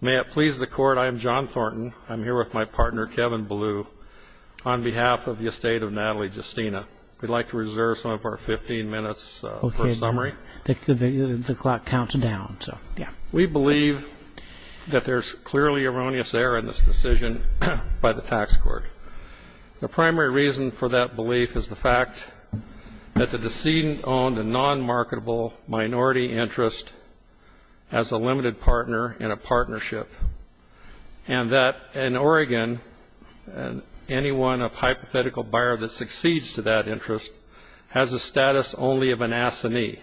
May it please the Court, I am John Thornton. I'm here with my partner, Kevin Blue, on behalf of the estate of Natale Giustina. We'd like to reserve some of our 15 minutes for summary. The clock counts down. We believe that there's clearly erroneous error in this decision by the tax court. The primary reason for that belief is the fact that the decedent owned a non-marketable minority interest as a limited partner in a partnership. And that in Oregon, anyone of hypothetical buyer that succeeds to that interest has a status only of an assinee.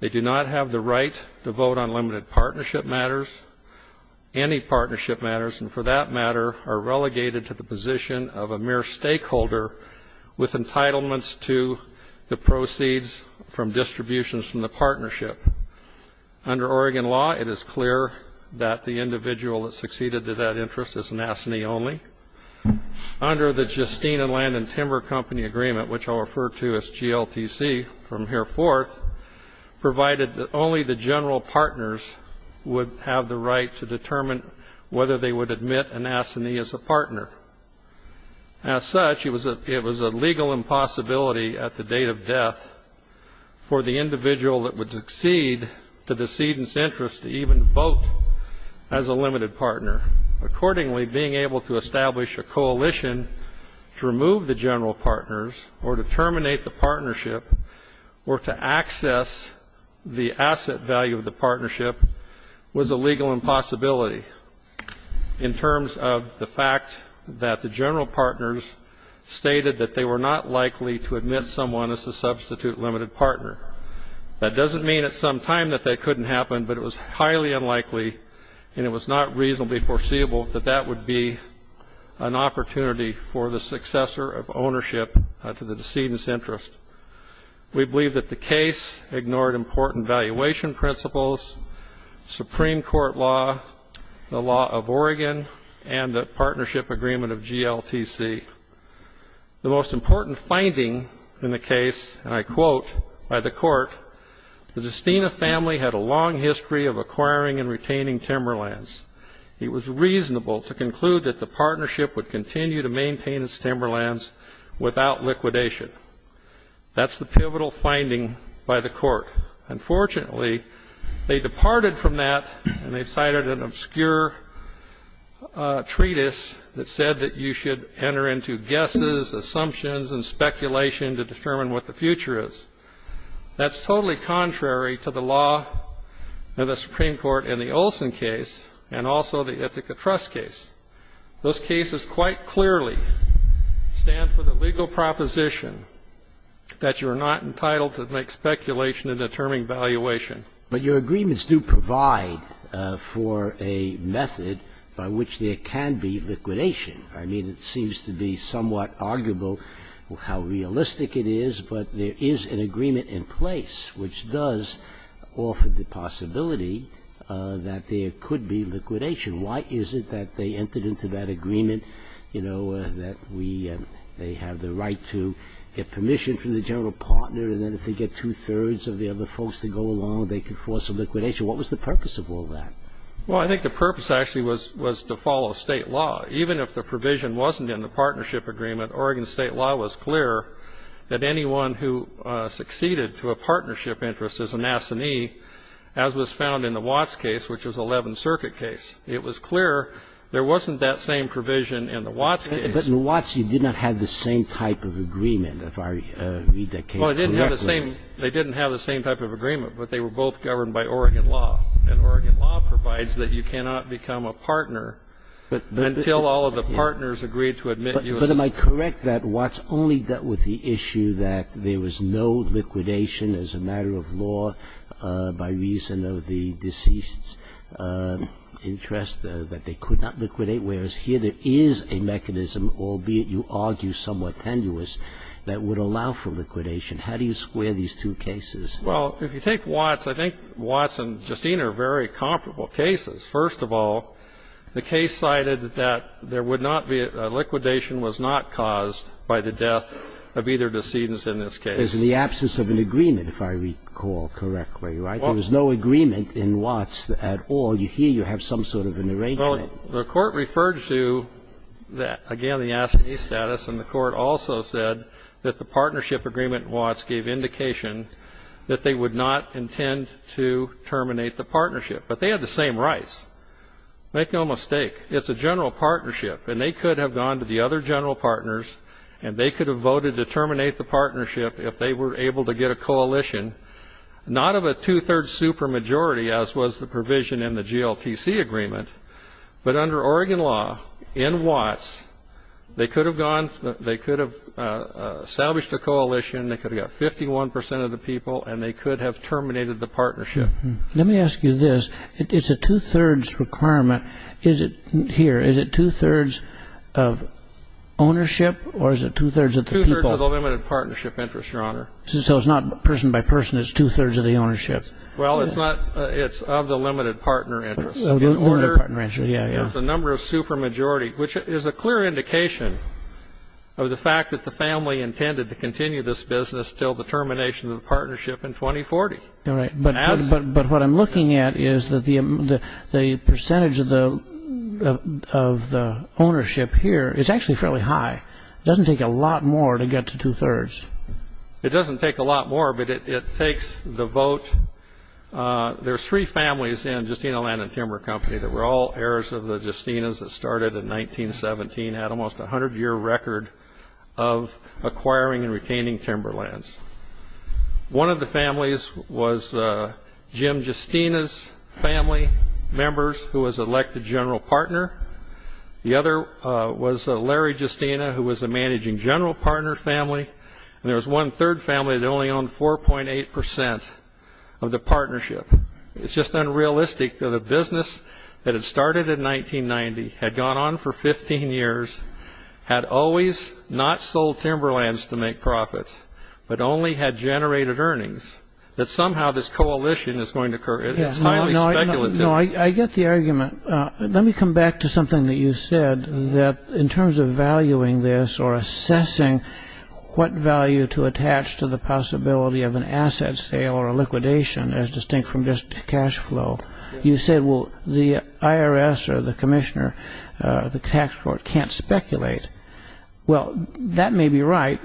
They do not have the right to vote on limited partnership matters, any partnership matters, and for that matter are relegated to the position of a mere stakeholder with entitlements to the proceeds from distributions from the partnership. Under Oregon law, it is clear that the individual that succeeded to that interest is an assinee only. Under the Giustina Land and Timber Company Agreement, which I'll refer to as GLTC from here forth, provided that only the general partners would have the right to determine whether they would admit an assinee as a partner. As such, it was a legal impossibility at the date of death for the individual that would succeed to the decedent's interest to even vote as a limited partner. Accordingly, being able to establish a coalition to remove the general partners or to terminate the partnership or to access the asset value of the partnership was a legal impossibility. In terms of the fact that the general partners stated that they were not likely to admit someone as a substitute limited partner, that doesn't mean at some time that that couldn't happen, but it was highly unlikely and it was not reasonably foreseeable that that would be an opportunity for the successor of ownership to the decedent's interest. We believe that the case ignored important valuation principles, Supreme Court law, the law of Oregon, and the partnership agreement of GLTC. The most important finding in the case, and I quote by the court, the Giustina family had a long history of acquiring and retaining timberlands. It was reasonable to conclude that the partnership would continue to maintain its timberlands without liquidation. That's the pivotal finding by the court. Unfortunately, they departed from that and they cited an obscure treatise that said that you should enter into guesses, assumptions, and speculation to determine what the future is. That's totally contrary to the law of the Supreme Court in the Olson case and also the Ithaca Trust case. Those cases quite clearly stand for the legal proposition that you are not entitled to make speculation in determining valuation. But your agreements do provide for a method by which there can be liquidation. I mean, it seems to be somewhat arguable how realistic it is, but there is an agreement in place which does offer the possibility that there could be liquidation. Why is it that they entered into that agreement, you know, that they have the right to get permission from the general partner, and then if they get two-thirds of the other folks to go along, they could force a liquidation? What was the purpose of all that? Well, I think the purpose actually was to follow state law. Even if the provision wasn't in the partnership agreement, Oregon state law was clear that anyone who succeeded to a partnership interest as an assignee, as was found in the Watts case, which was an Eleventh Circuit case, it was clear there wasn't that same provision in the Watts case. But in Watts, you did not have the same type of agreement, if I read that case correctly. Well, it didn't have the same. They didn't have the same type of agreement, but they were both governed by Oregon law. And Oregon law provides that you cannot become a partner until all of the partners agreed to admit you as an assignee. But am I correct that Watts only dealt with the issue that there was no liquidation as a matter of law by reason of the deceased's interest, that they could not liquidate, whereas here there is a mechanism, albeit you argue somewhat tenuous, that would allow for liquidation. How do you square these two cases? Well, if you take Watts, I think Watts and Justine are very comparable cases. First of all, the case cited that there would not be a liquidation was not caused by the death of either decedent in this case. There's the absence of an agreement, if I recall correctly, right? There was no agreement in Watts at all. Here you have some sort of an arrangement. Well, the Court referred to, again, the assignee status, and the Court also said that the partnership agreement in Watts gave indication that they would not intend to terminate the partnership. But they had the same rights. Make no mistake, it's a general partnership, and they could have gone to the other general partners and they could have voted to terminate the partnership if they were able to get a coalition, not of a two-thirds supermajority, as was the provision in the GLTC agreement, but under Oregon law, in Watts, they could have established a coalition, they could have got 51% of the people, and they could have terminated the partnership. Let me ask you this. It's a two-thirds requirement. Is it here, is it two-thirds of ownership or is it two-thirds of the people? Two-thirds of the limited partnership interest, Your Honor. So it's not person by person, it's two-thirds of the ownership? Well, it's of the limited partner interest. There's a number of supermajority, which is a clear indication of the fact that the family intended to continue this business until the termination of the partnership in 2040. All right. But what I'm looking at is that the percentage of the ownership here is actually fairly high. It doesn't take a lot more to get to two-thirds. It doesn't take a lot more, but it takes the vote. There are three families in Justina Land and Timber Company that were all heirs of the Justinas that started in 1917, had almost a 100-year record of acquiring and retaining timberlands. One of the families was Jim Justina's family members, who was elected general partner. The other was Larry Justina, who was a managing general partner family. And there was one third family that only owned 4.8 percent of the partnership. It's just unrealistic that a business that had started in 1990, had gone on for 15 years, had always not sold timberlands to make profits, but only had generated earnings, that somehow this coalition is going to occur. It's highly speculative. No, I get the argument. Let me come back to something that you said, that in terms of valuing this or assessing what value to attach to the possibility of an asset sale or a liquidation as distinct from just cash flow, you said, well, the IRS or the commissioner, the tax court can't speculate. Well, that may be right,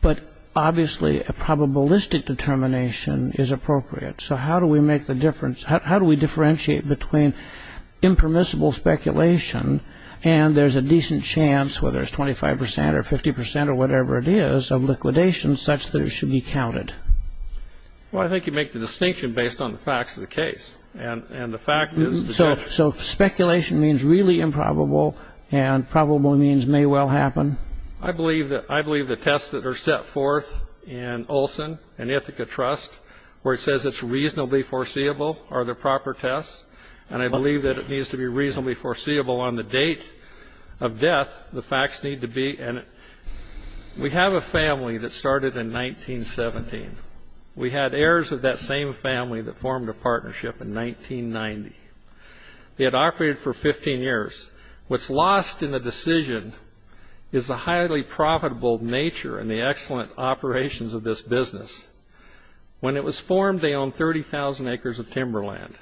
but obviously a probabilistic determination is appropriate. So how do we differentiate between impermissible speculation and there's a decent chance, whether it's 25 percent or 50 percent or whatever it is, of liquidation such that it should be counted? Well, I think you make the distinction based on the facts of the case. So speculation means really improbable and probable means may well happen? I believe the tests that are set forth in Olson and Ithaca Trust, where it says it's reasonably foreseeable, are the proper tests, and I believe that it needs to be reasonably foreseeable on the date of death. The facts need to be. We have a family that started in 1917. We had heirs of that same family that formed a partnership in 1990. They had operated for 15 years. What's lost in the decision is the highly profitable nature and the excellent operations of this business. When it was formed, they owned 30,000 acres of timberland.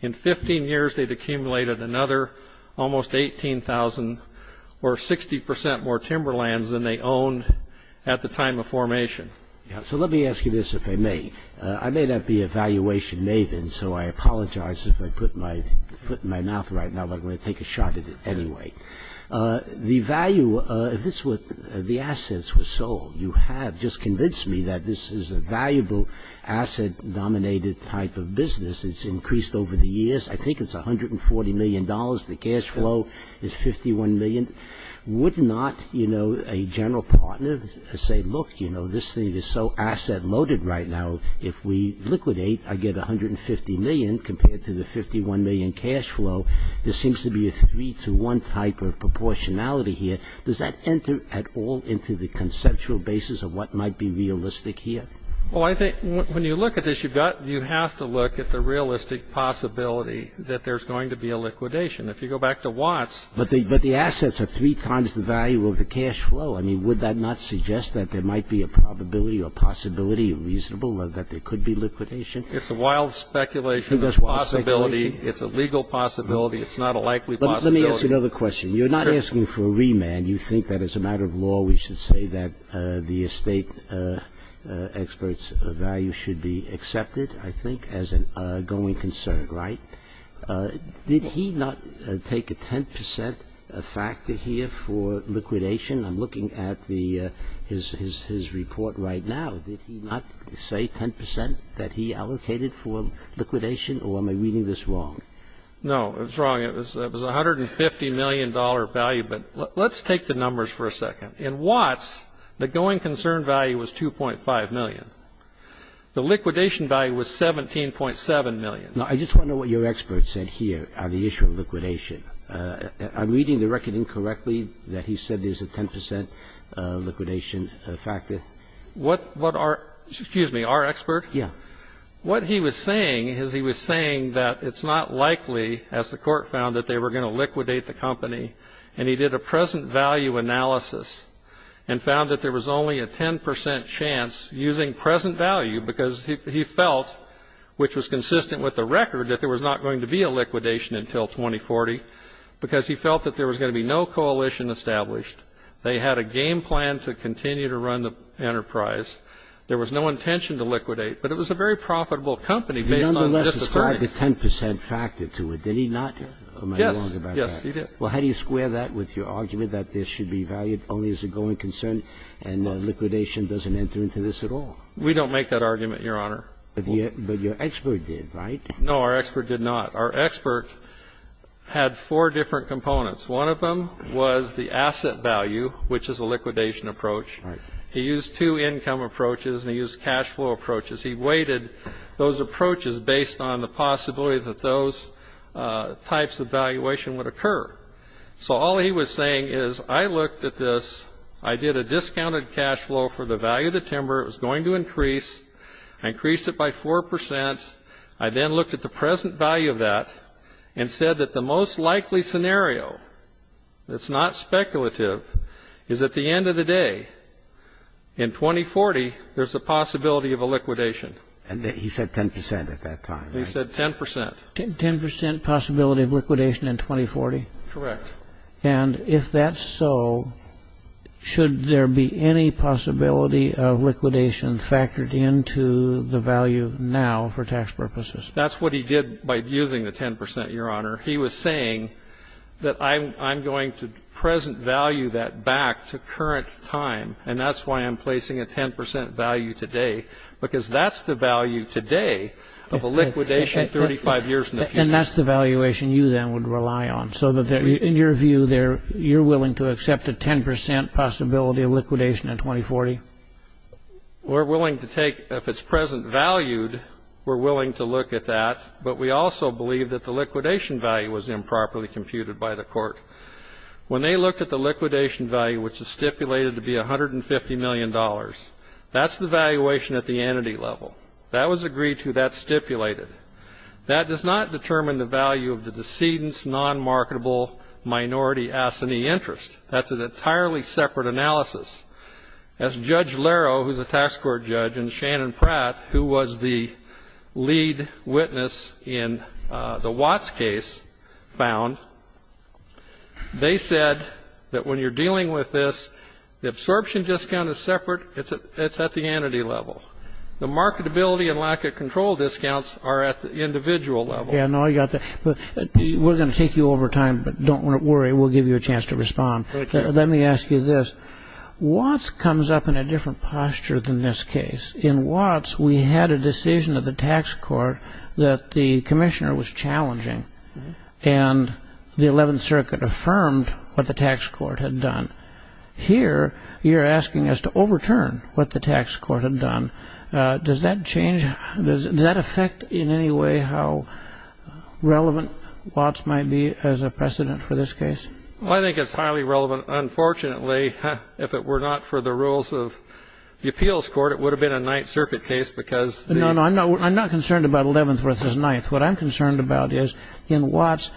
In 15 years, they'd accumulated another almost 18,000 or 60 percent more timberlands than they owned at the time of formation. So let me ask you this, if I may. I may not be a valuation maven, so I apologize if I put my foot in my mouth right now, but I'm going to take a shot at it anyway. The value of this was the assets were sold. You have just convinced me that this is a valuable asset-dominated type of business. It's increased over the years. I think it's $140 million. The cash flow is $51 million. Would not, you know, a general partner say, look, you know, this thing is so asset-loaded right now. If we liquidate, I get $150 million compared to the $51 million cash flow. There seems to be a three-to-one type of proportionality here. Does that enter at all into the conceptual basis of what might be realistic here? Well, I think when you look at this, you have to look at the realistic possibility that there's going to be a liquidation. If you go back to Watts. But the assets are three times the value of the cash flow. I mean, would that not suggest that there might be a probability or a possibility of reasonable or that there could be liquidation? It's a wild speculation. It's a possibility. It's not a likely possibility. Let me ask you another question. You're not asking for a remand. You think that as a matter of law we should say that the estate expert's value should be accepted, I think, as an ongoing concern, right? Did he not take a 10% factor here for liquidation? I'm looking at his report right now. Did he not say 10% that he allocated for liquidation, or am I reading this wrong? No, it's wrong. It was $150 million value. But let's take the numbers for a second. In Watts, the going concern value was $2.5 million. The liquidation value was $17.7 million. Now, I just wonder what your expert said here on the issue of liquidation. I'm reading the record incorrectly that he said there's a 10% liquidation factor. What our excuse me, our expert? Yeah. What he was saying is he was saying that it's not likely, as the court found, that they were going to liquidate the company. And he did a present value analysis and found that there was only a 10% chance using present value because he felt, which was consistent with the record, that there was not going to be a liquidation until 2040 because he felt that there was going to be no coalition established. They had a game plan to continue to run the enterprise. There was no intention to liquidate. But it was a very profitable company based on just the price. He, nonetheless, described a 10% factor to it, did he not? Yes. Yes, he did. Well, how do you square that with your argument that this should be valued only as a going concern and liquidation doesn't enter into this at all? We don't make that argument, Your Honor. But your expert did, right? No, our expert did not. Our expert had four different components. One of them was the asset value, which is a liquidation approach. Right. He used two income approaches and he used cash flow approaches. He weighted those approaches based on the possibility that those types of valuation would occur. So all he was saying is I looked at this, I did a discounted cash flow for the value of the timber. It was going to increase. I increased it by 4%. I then looked at the present value of that and said that the most likely scenario, that's not speculative, is at the end of the day, in 2040, there's a possibility of a liquidation. And he said 10% at that time, right? He said 10%. 10% possibility of liquidation in 2040? Correct. And if that's so, should there be any possibility of liquidation factored into the value now for tax purposes? That's what he did by using the 10%, Your Honor. He was saying that I'm going to present value that back to current time, and that's why I'm placing a 10% value today because that's the value today of a liquidation 35 years in the future. And that's the valuation you then would rely on, so that in your view you're willing to accept a 10% possibility of liquidation in 2040? We're willing to take, if it's present valued, we're willing to look at that, but we also believe that the liquidation value was improperly computed by the court. When they looked at the liquidation value, which is stipulated to be $150 million, that's the valuation at the entity level. That was agreed to. That's stipulated. That does not determine the value of the decedent's non-marketable minority assignee interest. That's an entirely separate analysis. As Judge Laro, who's a tax court judge, and Shannon Pratt, who was the lead witness in the Watts case found, they said that when you're dealing with this, the absorption discount is separate. It's at the entity level. The marketability and lack of control discounts are at the individual level. Yeah, no, I got that. We're going to take you over time, but don't worry. We'll give you a chance to respond. Let me ask you this. Watts comes up in a different posture than this case. In Watts, we had a decision of the tax court that the commissioner was challenging, and the Eleventh Circuit affirmed what the tax court had done. Here, you're asking us to overturn what the tax court had done. Does that change? Does that affect in any way how relevant Watts might be as a precedent for this case? Well, I think it's highly relevant. Unfortunately, if it were not for the rules of the appeals court, it would have been a Ninth Circuit case because the- No, no, I'm not concerned about Eleventh versus Ninth. What I'm concerned about is in Watts,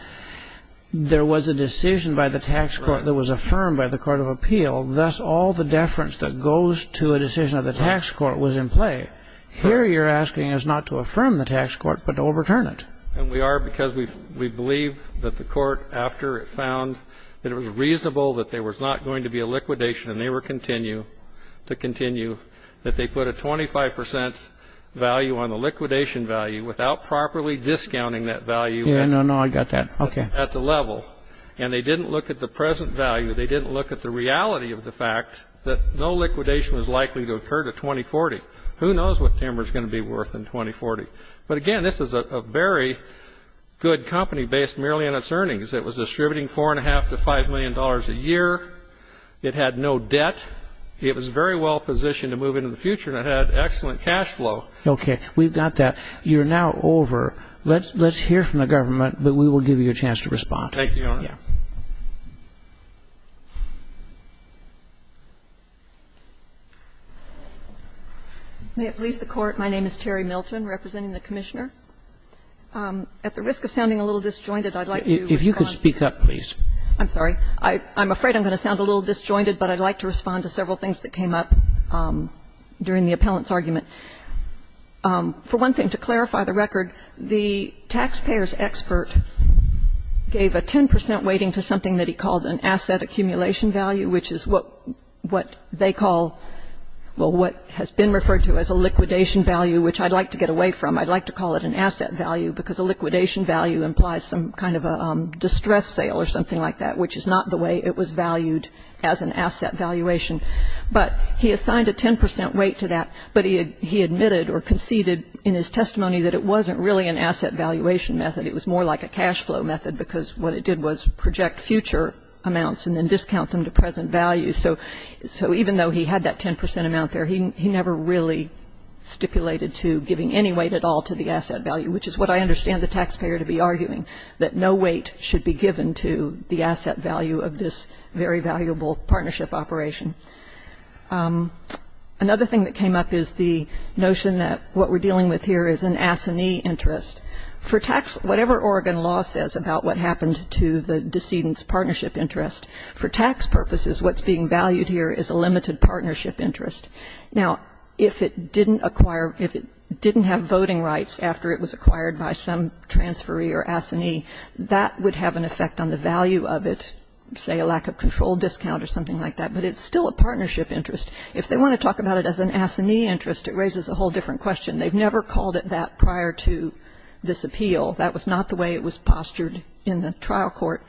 there was a decision by the tax court that was affirmed by the court of appeal. Thus, all the deference that goes to a decision of the tax court was in play. Here, you're asking us not to affirm the tax court but to overturn it. And we are because we believe that the court, after it found that it was reasonable that there was not going to be a liquidation and they were continue to continue, that they put a 25 percent value on the liquidation value without properly discounting that value- Yeah, no, no, I got that. Okay. At the level. And they didn't look at the present value. They didn't look at the reality of the fact that no liquidation was likely to occur to 2040. Who knows what Timmer's going to be worth in 2040. But again, this is a very good company based merely on its earnings. It was distributing $4.5 to $5 million a year. It had no debt. It was very well positioned to move into the future and it had excellent cash flow. Okay. We've got that. You're now over. Let's hear from the government, but we will give you a chance to respond. Thank you, Your Honor. Yeah. May it please the Court, my name is Terry Milton representing the Commissioner. At the risk of sounding a little disjointed, I'd like to respond- If you could speak up, please. I'm sorry. I'm afraid I'm going to sound a little disjointed, but I'd like to respond to several things that came up during the appellant's argument. For one thing, to clarify the record, the taxpayer's expert gave a 10 percent weighting to something that he called an asset accumulation value, which is what they call, well, what has been referred to as a liquidation value, which I'd like to get away from. I'd like to call it an asset value because a liquidation value implies some kind of a distress sale or something like that, which is not the way it was valued as an asset valuation. But he assigned a 10 percent weight to that, but he admitted or conceded in his testimony that it wasn't really an asset valuation method. It was more like a cash flow method because what it did was project future amounts and then discount them to present value. So even though he had that 10 percent amount there, he never really stipulated to giving any weight at all to the asset value, which is what I understand the taxpayer to be arguing, that no weight should be given to the asset value of this very valuable partnership operation. Another thing that came up is the notion that what we're dealing with here is an assignee interest. Whatever Oregon law says about what happened to the decedent's partnership interest, for tax purposes, what's being valued here is a limited partnership interest. Now, if it didn't acquire, if it didn't have voting rights after it was acquired by some transferee or assignee, that would have an effect on the value of it, say a lack of control discount or something like that. But it's still a partnership interest. If they want to talk about it as an assignee interest, it raises a whole different question. They've never called it that prior to this appeal. That was not the way it was postured in the trial court.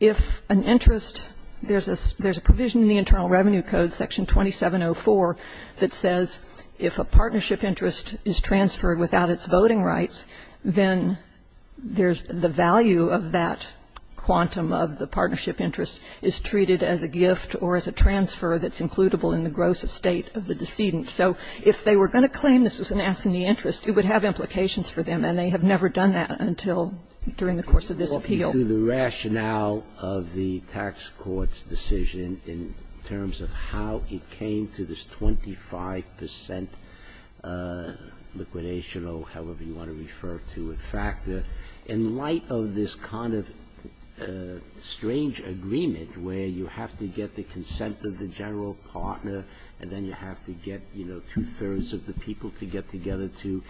If an interest, there's a provision in the Internal Revenue Code, Section 2704, that says if a partnership interest is transferred without its voting rights, then there's the value of that quantum of the partnership interest is treated as a gift or as a transfer that's includable in the gross estate of the decedent. So if they were going to claim this was an assignee interest, it would have implications for them, and they have never done that until during the course of this appeal. Sotomayor's Court, in terms of how it came to this 25 percent liquidation or however you want to refer to it factor, in light of this kind of strange agreement where you have to get the consent of the general partner and then you have to get, you know, two-thirds of the people to get together to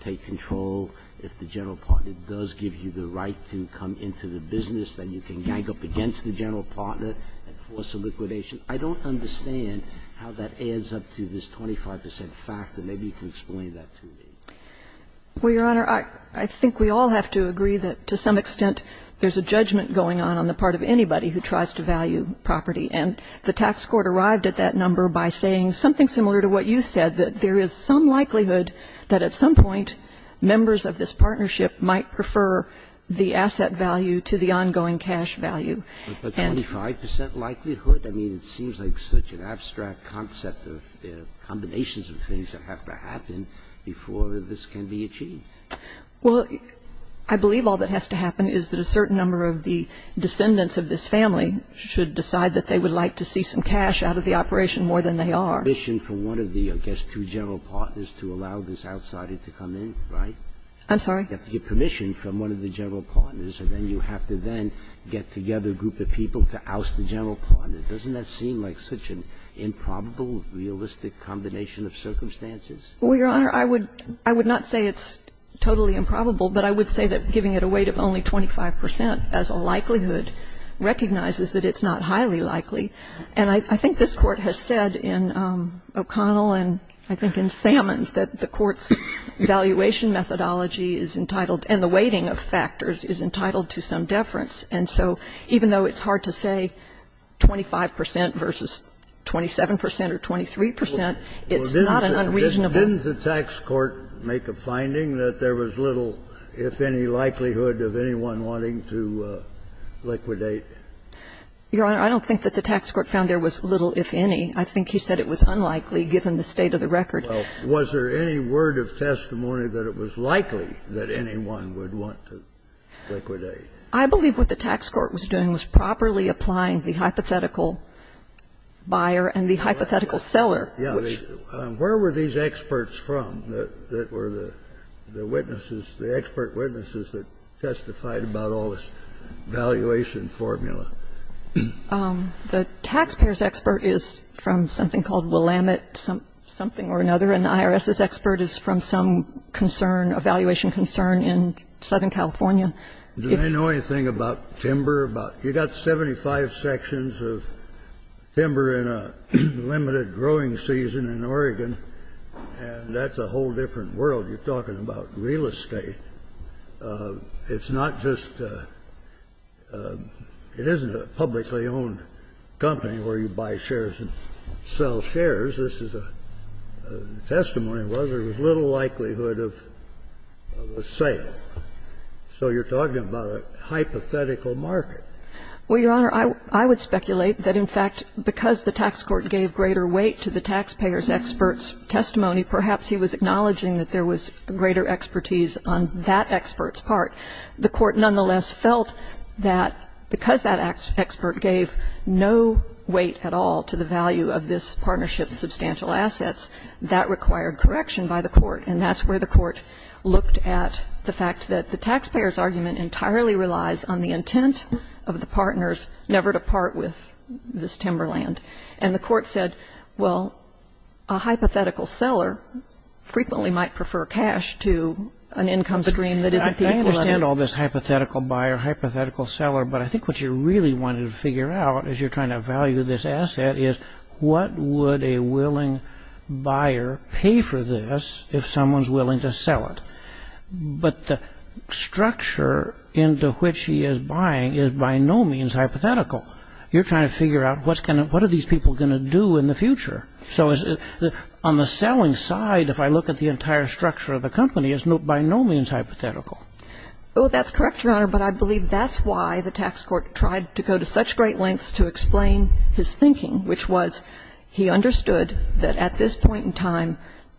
take control, if the business, then you can gang up against the general partner and force a liquidation, I don't understand how that adds up to this 25 percent factor. Maybe you can explain that to me. Well, Your Honor, I think we all have to agree that to some extent there's a judgment going on on the part of anybody who tries to value property. And the tax court arrived at that number by saying something similar to what you said, that there is some likelihood that at some point members of this partnership might prefer the asset value to the ongoing cash value. But 25 percent likelihood? I mean, it seems like such an abstract concept of combinations of things that have to happen before this can be achieved. Well, I believe all that has to happen is that a certain number of the descendants of this family should decide that they would like to see some cash out of the operation more than they are. You have to get permission from one of the, I guess, two general partners to allow this outsider to come in, right? I'm sorry? You have to get permission from one of the general partners, and then you have to then get together a group of people to oust the general partner. Doesn't that seem like such an improbable, realistic combination of circumstances? Well, Your Honor, I would not say it's totally improbable, but I would say that giving it a weight of only 25 percent as a likelihood recognizes that it's not highly likely. And I think this Court has said in O'Connell and I think in Sammons that the Court's valuation methodology is entitled and the weighting of factors is entitled to some deference, and so even though it's hard to say 25 percent versus 27 percent or 23 percent, it's not an unreasonable. Didn't the tax court make a finding that there was little, if any, likelihood of anyone wanting to liquidate? Your Honor, I don't think that the tax court found there was little, if any. I think he said it was unlikely, given the state of the record. Well, was there any word of testimony that it was likely that anyone would want to liquidate? I believe what the tax court was doing was properly applying the hypothetical buyer and the hypothetical seller, which was. Where were these experts from that were the witnesses, the expert witnesses that testified about all this valuation formula? The taxpayer's expert is from something called Willamette, something or another, and the IRS's expert is from some concern, a valuation concern in Southern California. Do they know anything about timber? You've got 75 sections of timber in a limited growing season in Oregon, and that's a whole different world. You're talking about real estate. It's not just the – it isn't a publicly owned company where you buy shares and sell shares. This is a testimony of whether there was little likelihood of a sale. So you're talking about a hypothetical market. Well, Your Honor, I would speculate that, in fact, because the tax court gave greater weight to the taxpayer's expert's testimony, perhaps he was acknowledging that there was greater expertise on that expert's part. The court, nonetheless, felt that because that expert gave no weight at all to the value of this partnership's substantial assets, that required correction by the court. And that's where the court looked at the fact that the taxpayer's argument entirely relies on the intent of the partners never to part with this timber land. And the court said, well, a hypothetical seller frequently might prefer cash to an income stream that isn't people- I understand all this hypothetical buyer, hypothetical seller, but I think what you really wanted to figure out as you're trying to value this asset is what would a willing buyer pay for this if someone's willing to sell it? But the structure into which he is buying is by no means hypothetical. You're trying to figure out what are these people going to do in the future. So on the selling side, if I look at the entire structure of the company, it's by no means hypothetical. Well, that's correct, Your Honor, but I believe that's why the tax court tried to go to such great lengths to explain his thinking, which was he understood that at this point in time,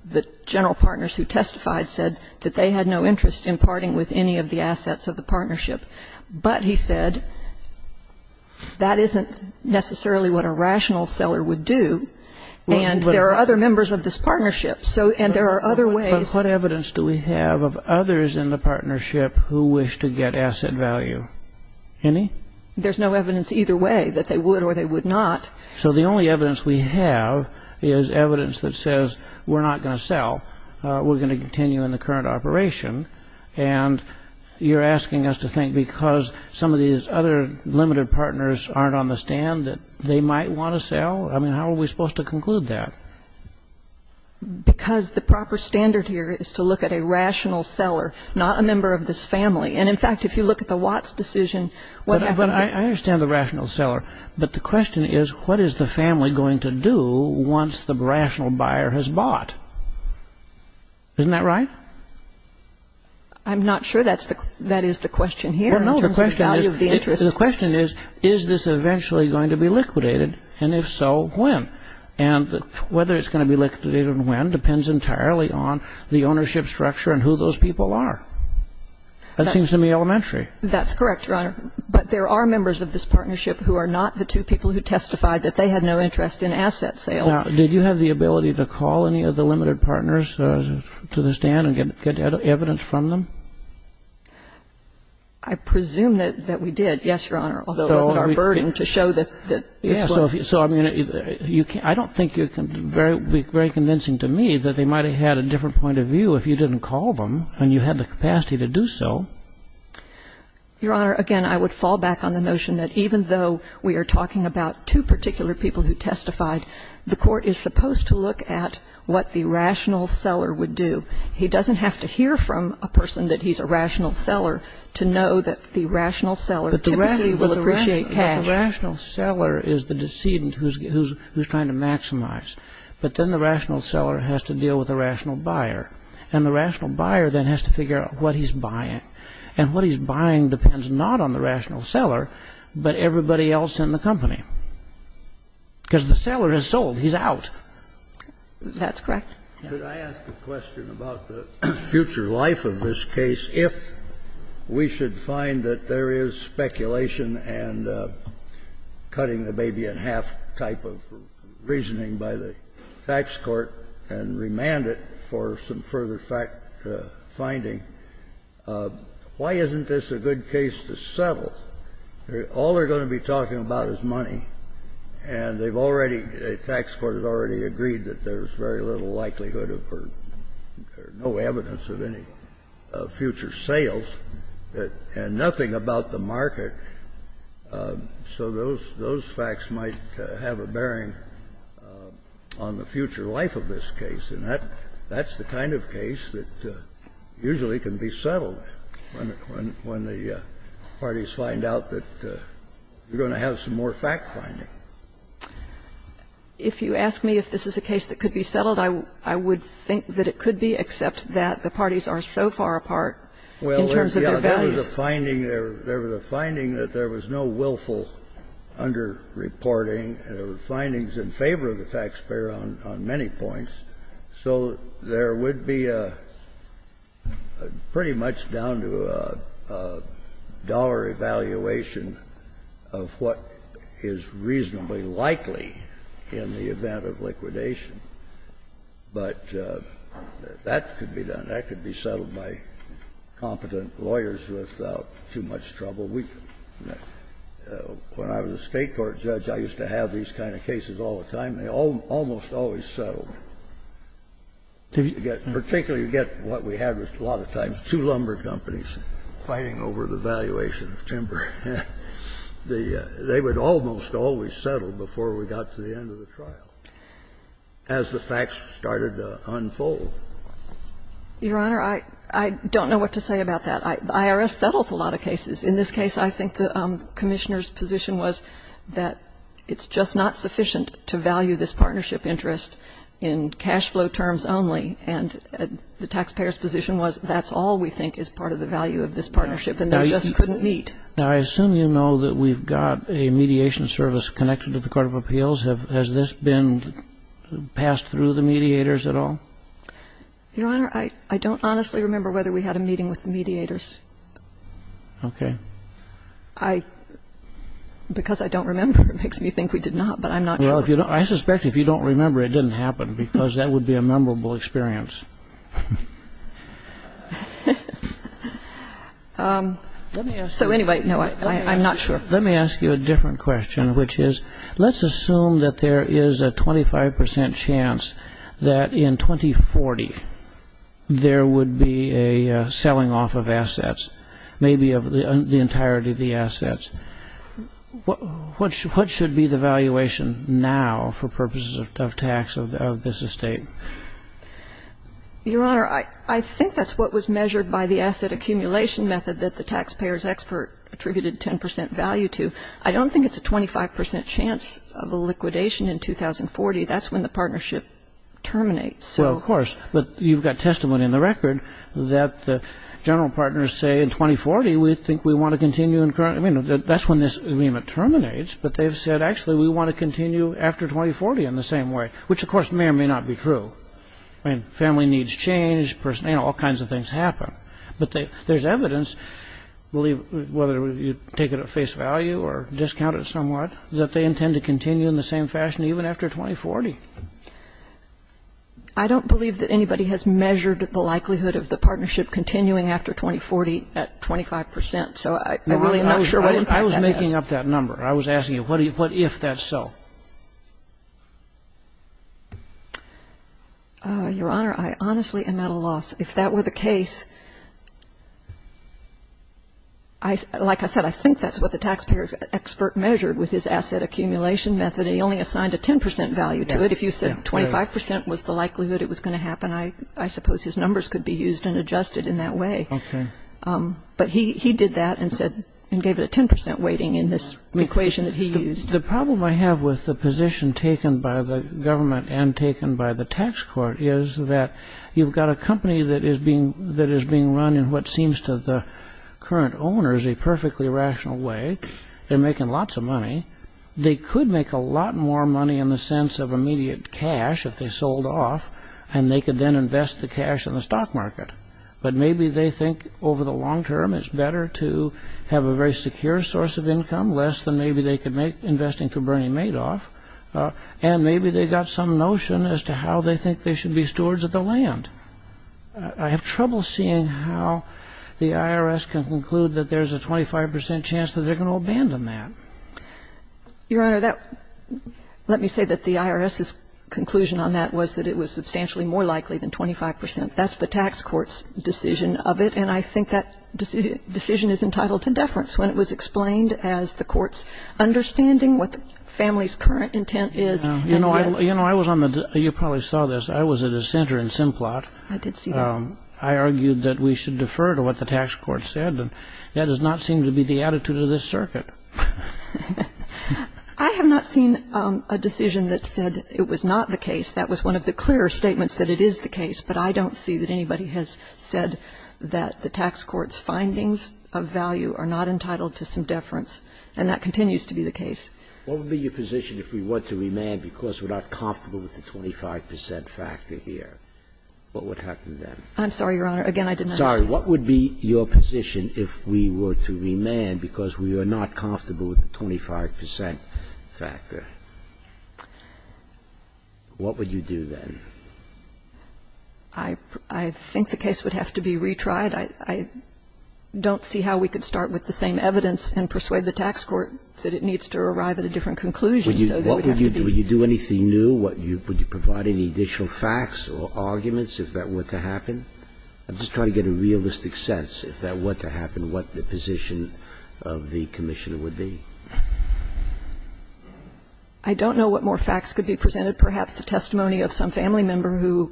the general partners who testified said that they had no interest in parting with any of the assets of the partnership. But, he said, that isn't necessarily what a rational seller would do, and there are other members of this partnership, and there are other ways- But what evidence do we have of others in the partnership who wish to get asset value? Any? There's no evidence either way that they would or they would not. So the only evidence we have is evidence that says we're not going to sell, we're going to continue in the current operation, and you're asking us to think because some of these other limited partners aren't on the stand that they might want to sell? I mean, how are we supposed to conclude that? Because the proper standard here is to look at a rational seller, not a member of this family. And, in fact, if you look at the Watts decision- But I understand the rational seller, but the question is what is the family going to do once the rational buyer has bought? Isn't that right? I'm not sure that is the question here in terms of the value of the interest. Well, no, the question is, is this eventually going to be liquidated, and if so, when? And whether it's going to be liquidated and when depends entirely on the ownership structure and who those people are. That seems to me elementary. That's correct, Your Honor. But there are members of this partnership who are not the two people who testified that they had no interest in asset sales. Now, did you have the ability to call any of the limited partners to the stand and get evidence from them? I presume that we did, yes, Your Honor, although it wasn't our burden to show that this was- So, I mean, I don't think it would be very convincing to me that they might have had a different point of view if you didn't call them and you had the capacity to do so. Your Honor, again, I would fall back on the notion that even though we are talking about two particular people who testified, the court is supposed to look at what the rational seller would do. He doesn't have to hear from a person that he's a rational seller to know that the rational seller typically will appreciate cash. But the rational seller is the decedent who's trying to maximize. But then the rational seller has to deal with the rational buyer, and the rational buyer then has to figure out what he's buying. And what he's buying depends not on the rational seller, but everybody else in the company, because the seller has sold, he's out. That's correct. Could I ask a question about the future life of this case? If we should find that there is speculation and cutting the baby in half type of reasoning by the tax court and remand it for some further finding, why isn't this a good case to settle? All they're going to be talking about is money, and they've already, the tax court has already agreed that there's very little likelihood or no evidence of any future sales and nothing about the market. So those facts might have a bearing on the future life of this case, and that's the kind of case that usually can be settled when the parties find out that you're going to have some more fact-finding. If you ask me if this is a case that could be settled, I would think that it could be, except that the parties are so far apart in terms of their values. There was a finding that there was no willful under-reporting, and there were findings in favor of the taxpayer on many points, so there would be a pretty much down to a dollar evaluation of what is reasonably likely in the event of liquidation. But that could be done. I don't think it's a case that's going to be settled by competent lawyers without too much trouble. When I was a State court judge, I used to have these kind of cases all the time, and they almost always settled. Particularly you get what we had a lot of times, two lumber companies fighting over the valuation of timber. They would almost always settle before we got to the end of the trial, as the facts started to unfold. Your Honor, I don't know what to say about that. The IRS settles a lot of cases. In this case, I think the Commissioner's position was that it's just not sufficient to value this partnership interest in cash flow terms only, and the taxpayer's position was that's all we think is part of the value of this partnership, and we just couldn't meet. Now, I assume you know that we've got a mediation service connected to the court of appeals. Has this been passed through the mediators at all? Your Honor, I don't honestly remember whether we had a meeting with the mediators. Okay. I — because I don't remember, it makes me think we did not, but I'm not sure. Well, I suspect if you don't remember, it didn't happen, because that would be a memorable experience. Let me ask you a different question, which is let's assume that there is a 25 percent chance that in 2040 there would be a selling off of assets, maybe of the entirety of the assets. What should be the valuation now for purposes of tax of this estate? Your Honor, I think that's what was measured by the asset accumulation method that the taxpayer's expert attributed 10 percent value to. I don't think it's a 25 percent chance of a liquidation in 2040. That's when the partnership terminates. Well, of course, but you've got testimony in the record that the general partners say in 2040 we think we want to continue in current — I mean, that's when this agreement terminates, but they've said actually we want to continue after 2040 in the same way, which of course may or may not be true. I mean, family needs change, you know, all kinds of things happen. But there's evidence, whether you take it at face value or discount it somewhat, that they intend to continue in the same fashion even after 2040. I don't believe that anybody has measured the likelihood of the partnership continuing after 2040 at 25 percent. So I really am not sure what impact that has. I was making up that number. I was asking you what if that's so. Your Honor, I honestly am at a loss. If that were the case, like I said, I think that's what the taxpayer's expert measured with his asset accumulation method. He only assigned a 10 percent value to it. If you said 25 percent was the likelihood it was going to happen, I suppose his numbers could be used and adjusted in that way. But he did that and gave it a 10 percent weighting in this equation that he used. The problem I have with the position taken by the government and taken by the tax court is that you've got a company that is being run in what seems to the current owners a perfectly rational way. They're making lots of money. They could make a lot more money in the sense of immediate cash if they sold off, and they could then invest the cash in the stock market. But maybe they think over the long term it's better to have a very secure source of income, less than maybe they could make investing through Bernie Madoff. And maybe they got some notion as to how they think they should be stewards of the land. I have trouble seeing how the IRS can conclude that there's a 25 percent chance that they're going to abandon that. Your Honor, let me say that the IRS's conclusion on that was that it was substantially more likely than 25 percent. That's the tax court's decision of it. And I think that decision is entitled to deference when it was explained as the court's understanding what the family's current intent is. You know, I was on the you probably saw this. I was at a center in Simplot. I did see that. I argued that we should defer to what the tax court said, and that does not seem to be the attitude of this circuit. I have not seen a decision that said it was not the case. That was one of the clearer statements that it is the case, but I don't see that anybody has said that the tax court's findings of value are not entitled to some deference, and that continues to be the case. What would be your position if we were to remand because we're not comfortable with the 25 percent factor here? What would happen then? I'm sorry, Your Honor. Again, I did not understand. Sorry. What would be your position if we were to remand because we are not comfortable with the 25 percent factor? What would you do then? I think the case would have to be retried. I don't see how we could start with the same evidence and persuade the tax court that it needs to arrive at a different conclusion. So there would have to be new. Would you do anything new? Would you provide any additional facts or arguments if that were to happen? I'm just trying to get a realistic sense, if that were to happen, what the position of the Commissioner would be. I don't know what more facts could be presented. Perhaps the testimony of some family member who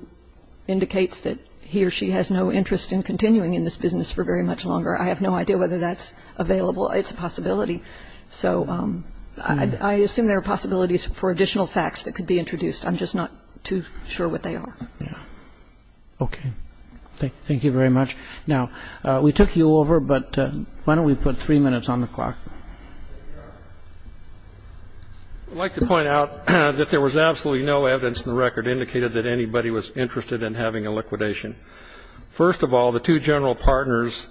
indicates that he or she has no interest in continuing in this business for very much longer. I have no idea whether that's available. It's a possibility. So I assume there are possibilities for additional facts that could be introduced. I'm just not too sure what they are. Okay. Thank you very much. Now, we took you over, but why don't we put three minutes on the clock? There you are. I'd like to point out that there was absolutely no evidence in the record indicated that anybody was interested in having a liquidation. First of all, the two general partners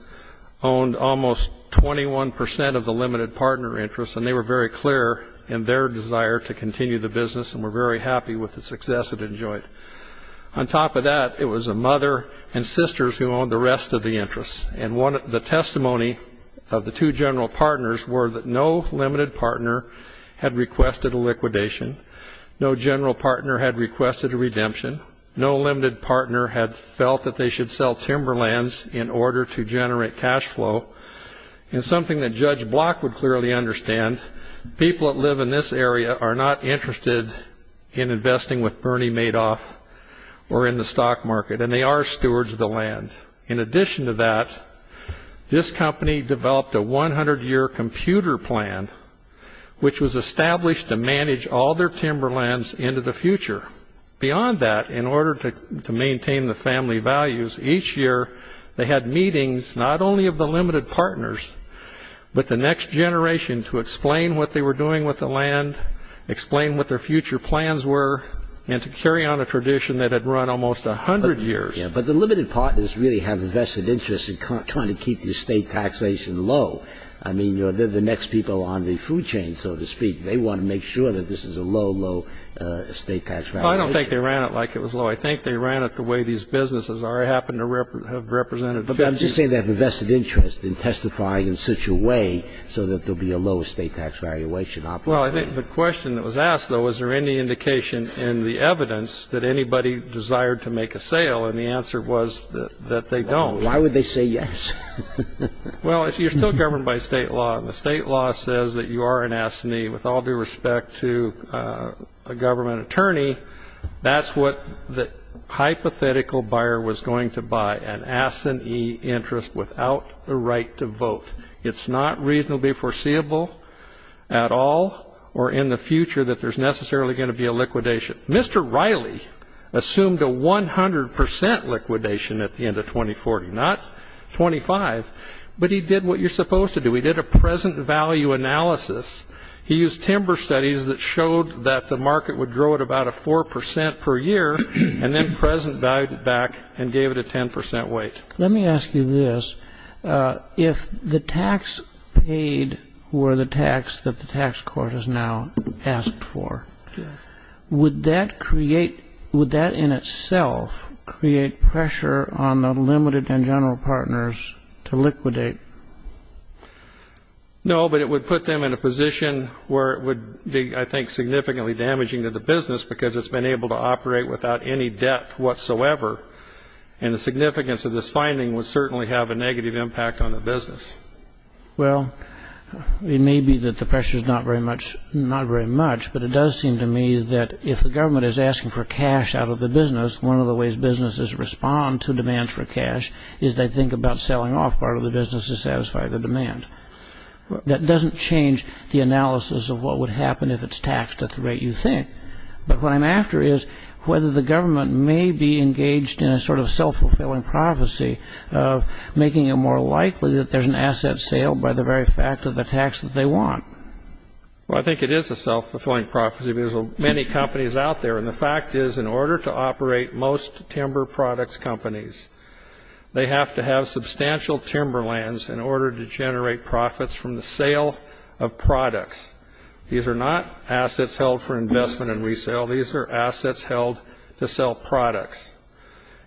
owned almost 21% of the limited partner interest, and they were very clear in their desire to continue the business and were very happy with the success it enjoyed. On top of that, it was a mother and sisters who owned the rest of the interest. And the testimony of the two general partners were that no limited partner had requested a liquidation. No general partner had requested a redemption. No limited partner had felt that they should sell timberlands in order to generate cash flow. And something that Judge Block would clearly understand, people that live in this area are not interested in investing with Bernie Madoff or in the stock market, and they are stewards of the land. In addition to that, this company developed a 100-year computer plan, which was established to manage all their timberlands into the future. Beyond that, in order to maintain the family values, each year, they had meetings not only of the limited partners, but the next generation to explain what they were doing with the land, explain what their future plans were, and to carry on a tradition that had run almost 100 years. But the limited partners really have a vested interest in trying to keep the estate taxation low. I mean, they're the next people on the food chain, so to speak. They want to make sure that this is a low, low estate tax valuation. Well, I don't think they ran it like it was low. I think they ran it the way these businesses are. I happen to have represented the business. I'm just saying they have a vested interest in testifying in such a way so that there'll be a low estate tax valuation opportunity. Well, I think the question that was asked, though, was there any indication in the evidence that anybody desired to make a sale? And the answer was that they don't. Why would they say yes? Well, you're still governed by state law. And the state law says that you are an assinee. With all due respect to a government attorney, that's what the hypothetical buyer was going to buy, an assinee interest without the right to vote. It's not reasonably foreseeable at all or in the future that there's necessarily going to be a liquidation. Mr. Riley assumed a 100% liquidation at the end of 2040, not 25. But he did what you're supposed to do. He did a present value analysis. He used timber studies that showed that the market would grow at about a 4% per year, and then present value it back and gave it a 10% weight. Let me ask you this. If the tax paid were the tax that the tax court has now asked for, would that in itself create pressure on the limited and general partners to liquidate? No, but it would put them in a position where it would be, I think, significantly damaging to the business, because it's been able to operate without any debt whatsoever. And the significance of this finding would certainly have a negative impact on the business. Well, it may be that the pressure is not very much, but it does seem to me that if the government is asking for cash out of the business, one of the ways businesses respond to demand for cash is they think about selling off part of the business to satisfy the demand. That doesn't change the analysis of what would happen if it's taxed at the rate you think. But what I'm after is whether the government may be engaged in a sort of self-fulfilling prophecy of making it more likely that there's an asset sale by the very fact of the tax that they want. Well, I think it is a self-fulfilling prophecy, because there are many companies out there. And the fact is, in order to operate most timber products companies, they have to have substantial timber lands in order to generate profits from the sale of products. These are not assets held for investment and resale. These are assets held to sell products.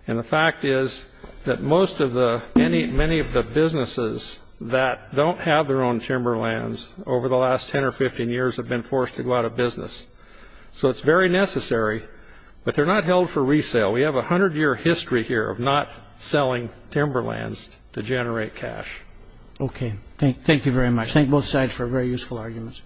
And the fact is that most of the many of the businesses that don't have their own timber lands over the last 10 or 15 years have been forced to go out of business. So it's very necessary, but they're not held for resale. We have a hundred-year history here of not selling timber lands to generate cash. Okay. Thank you very much. Thank both sides for very useful arguments.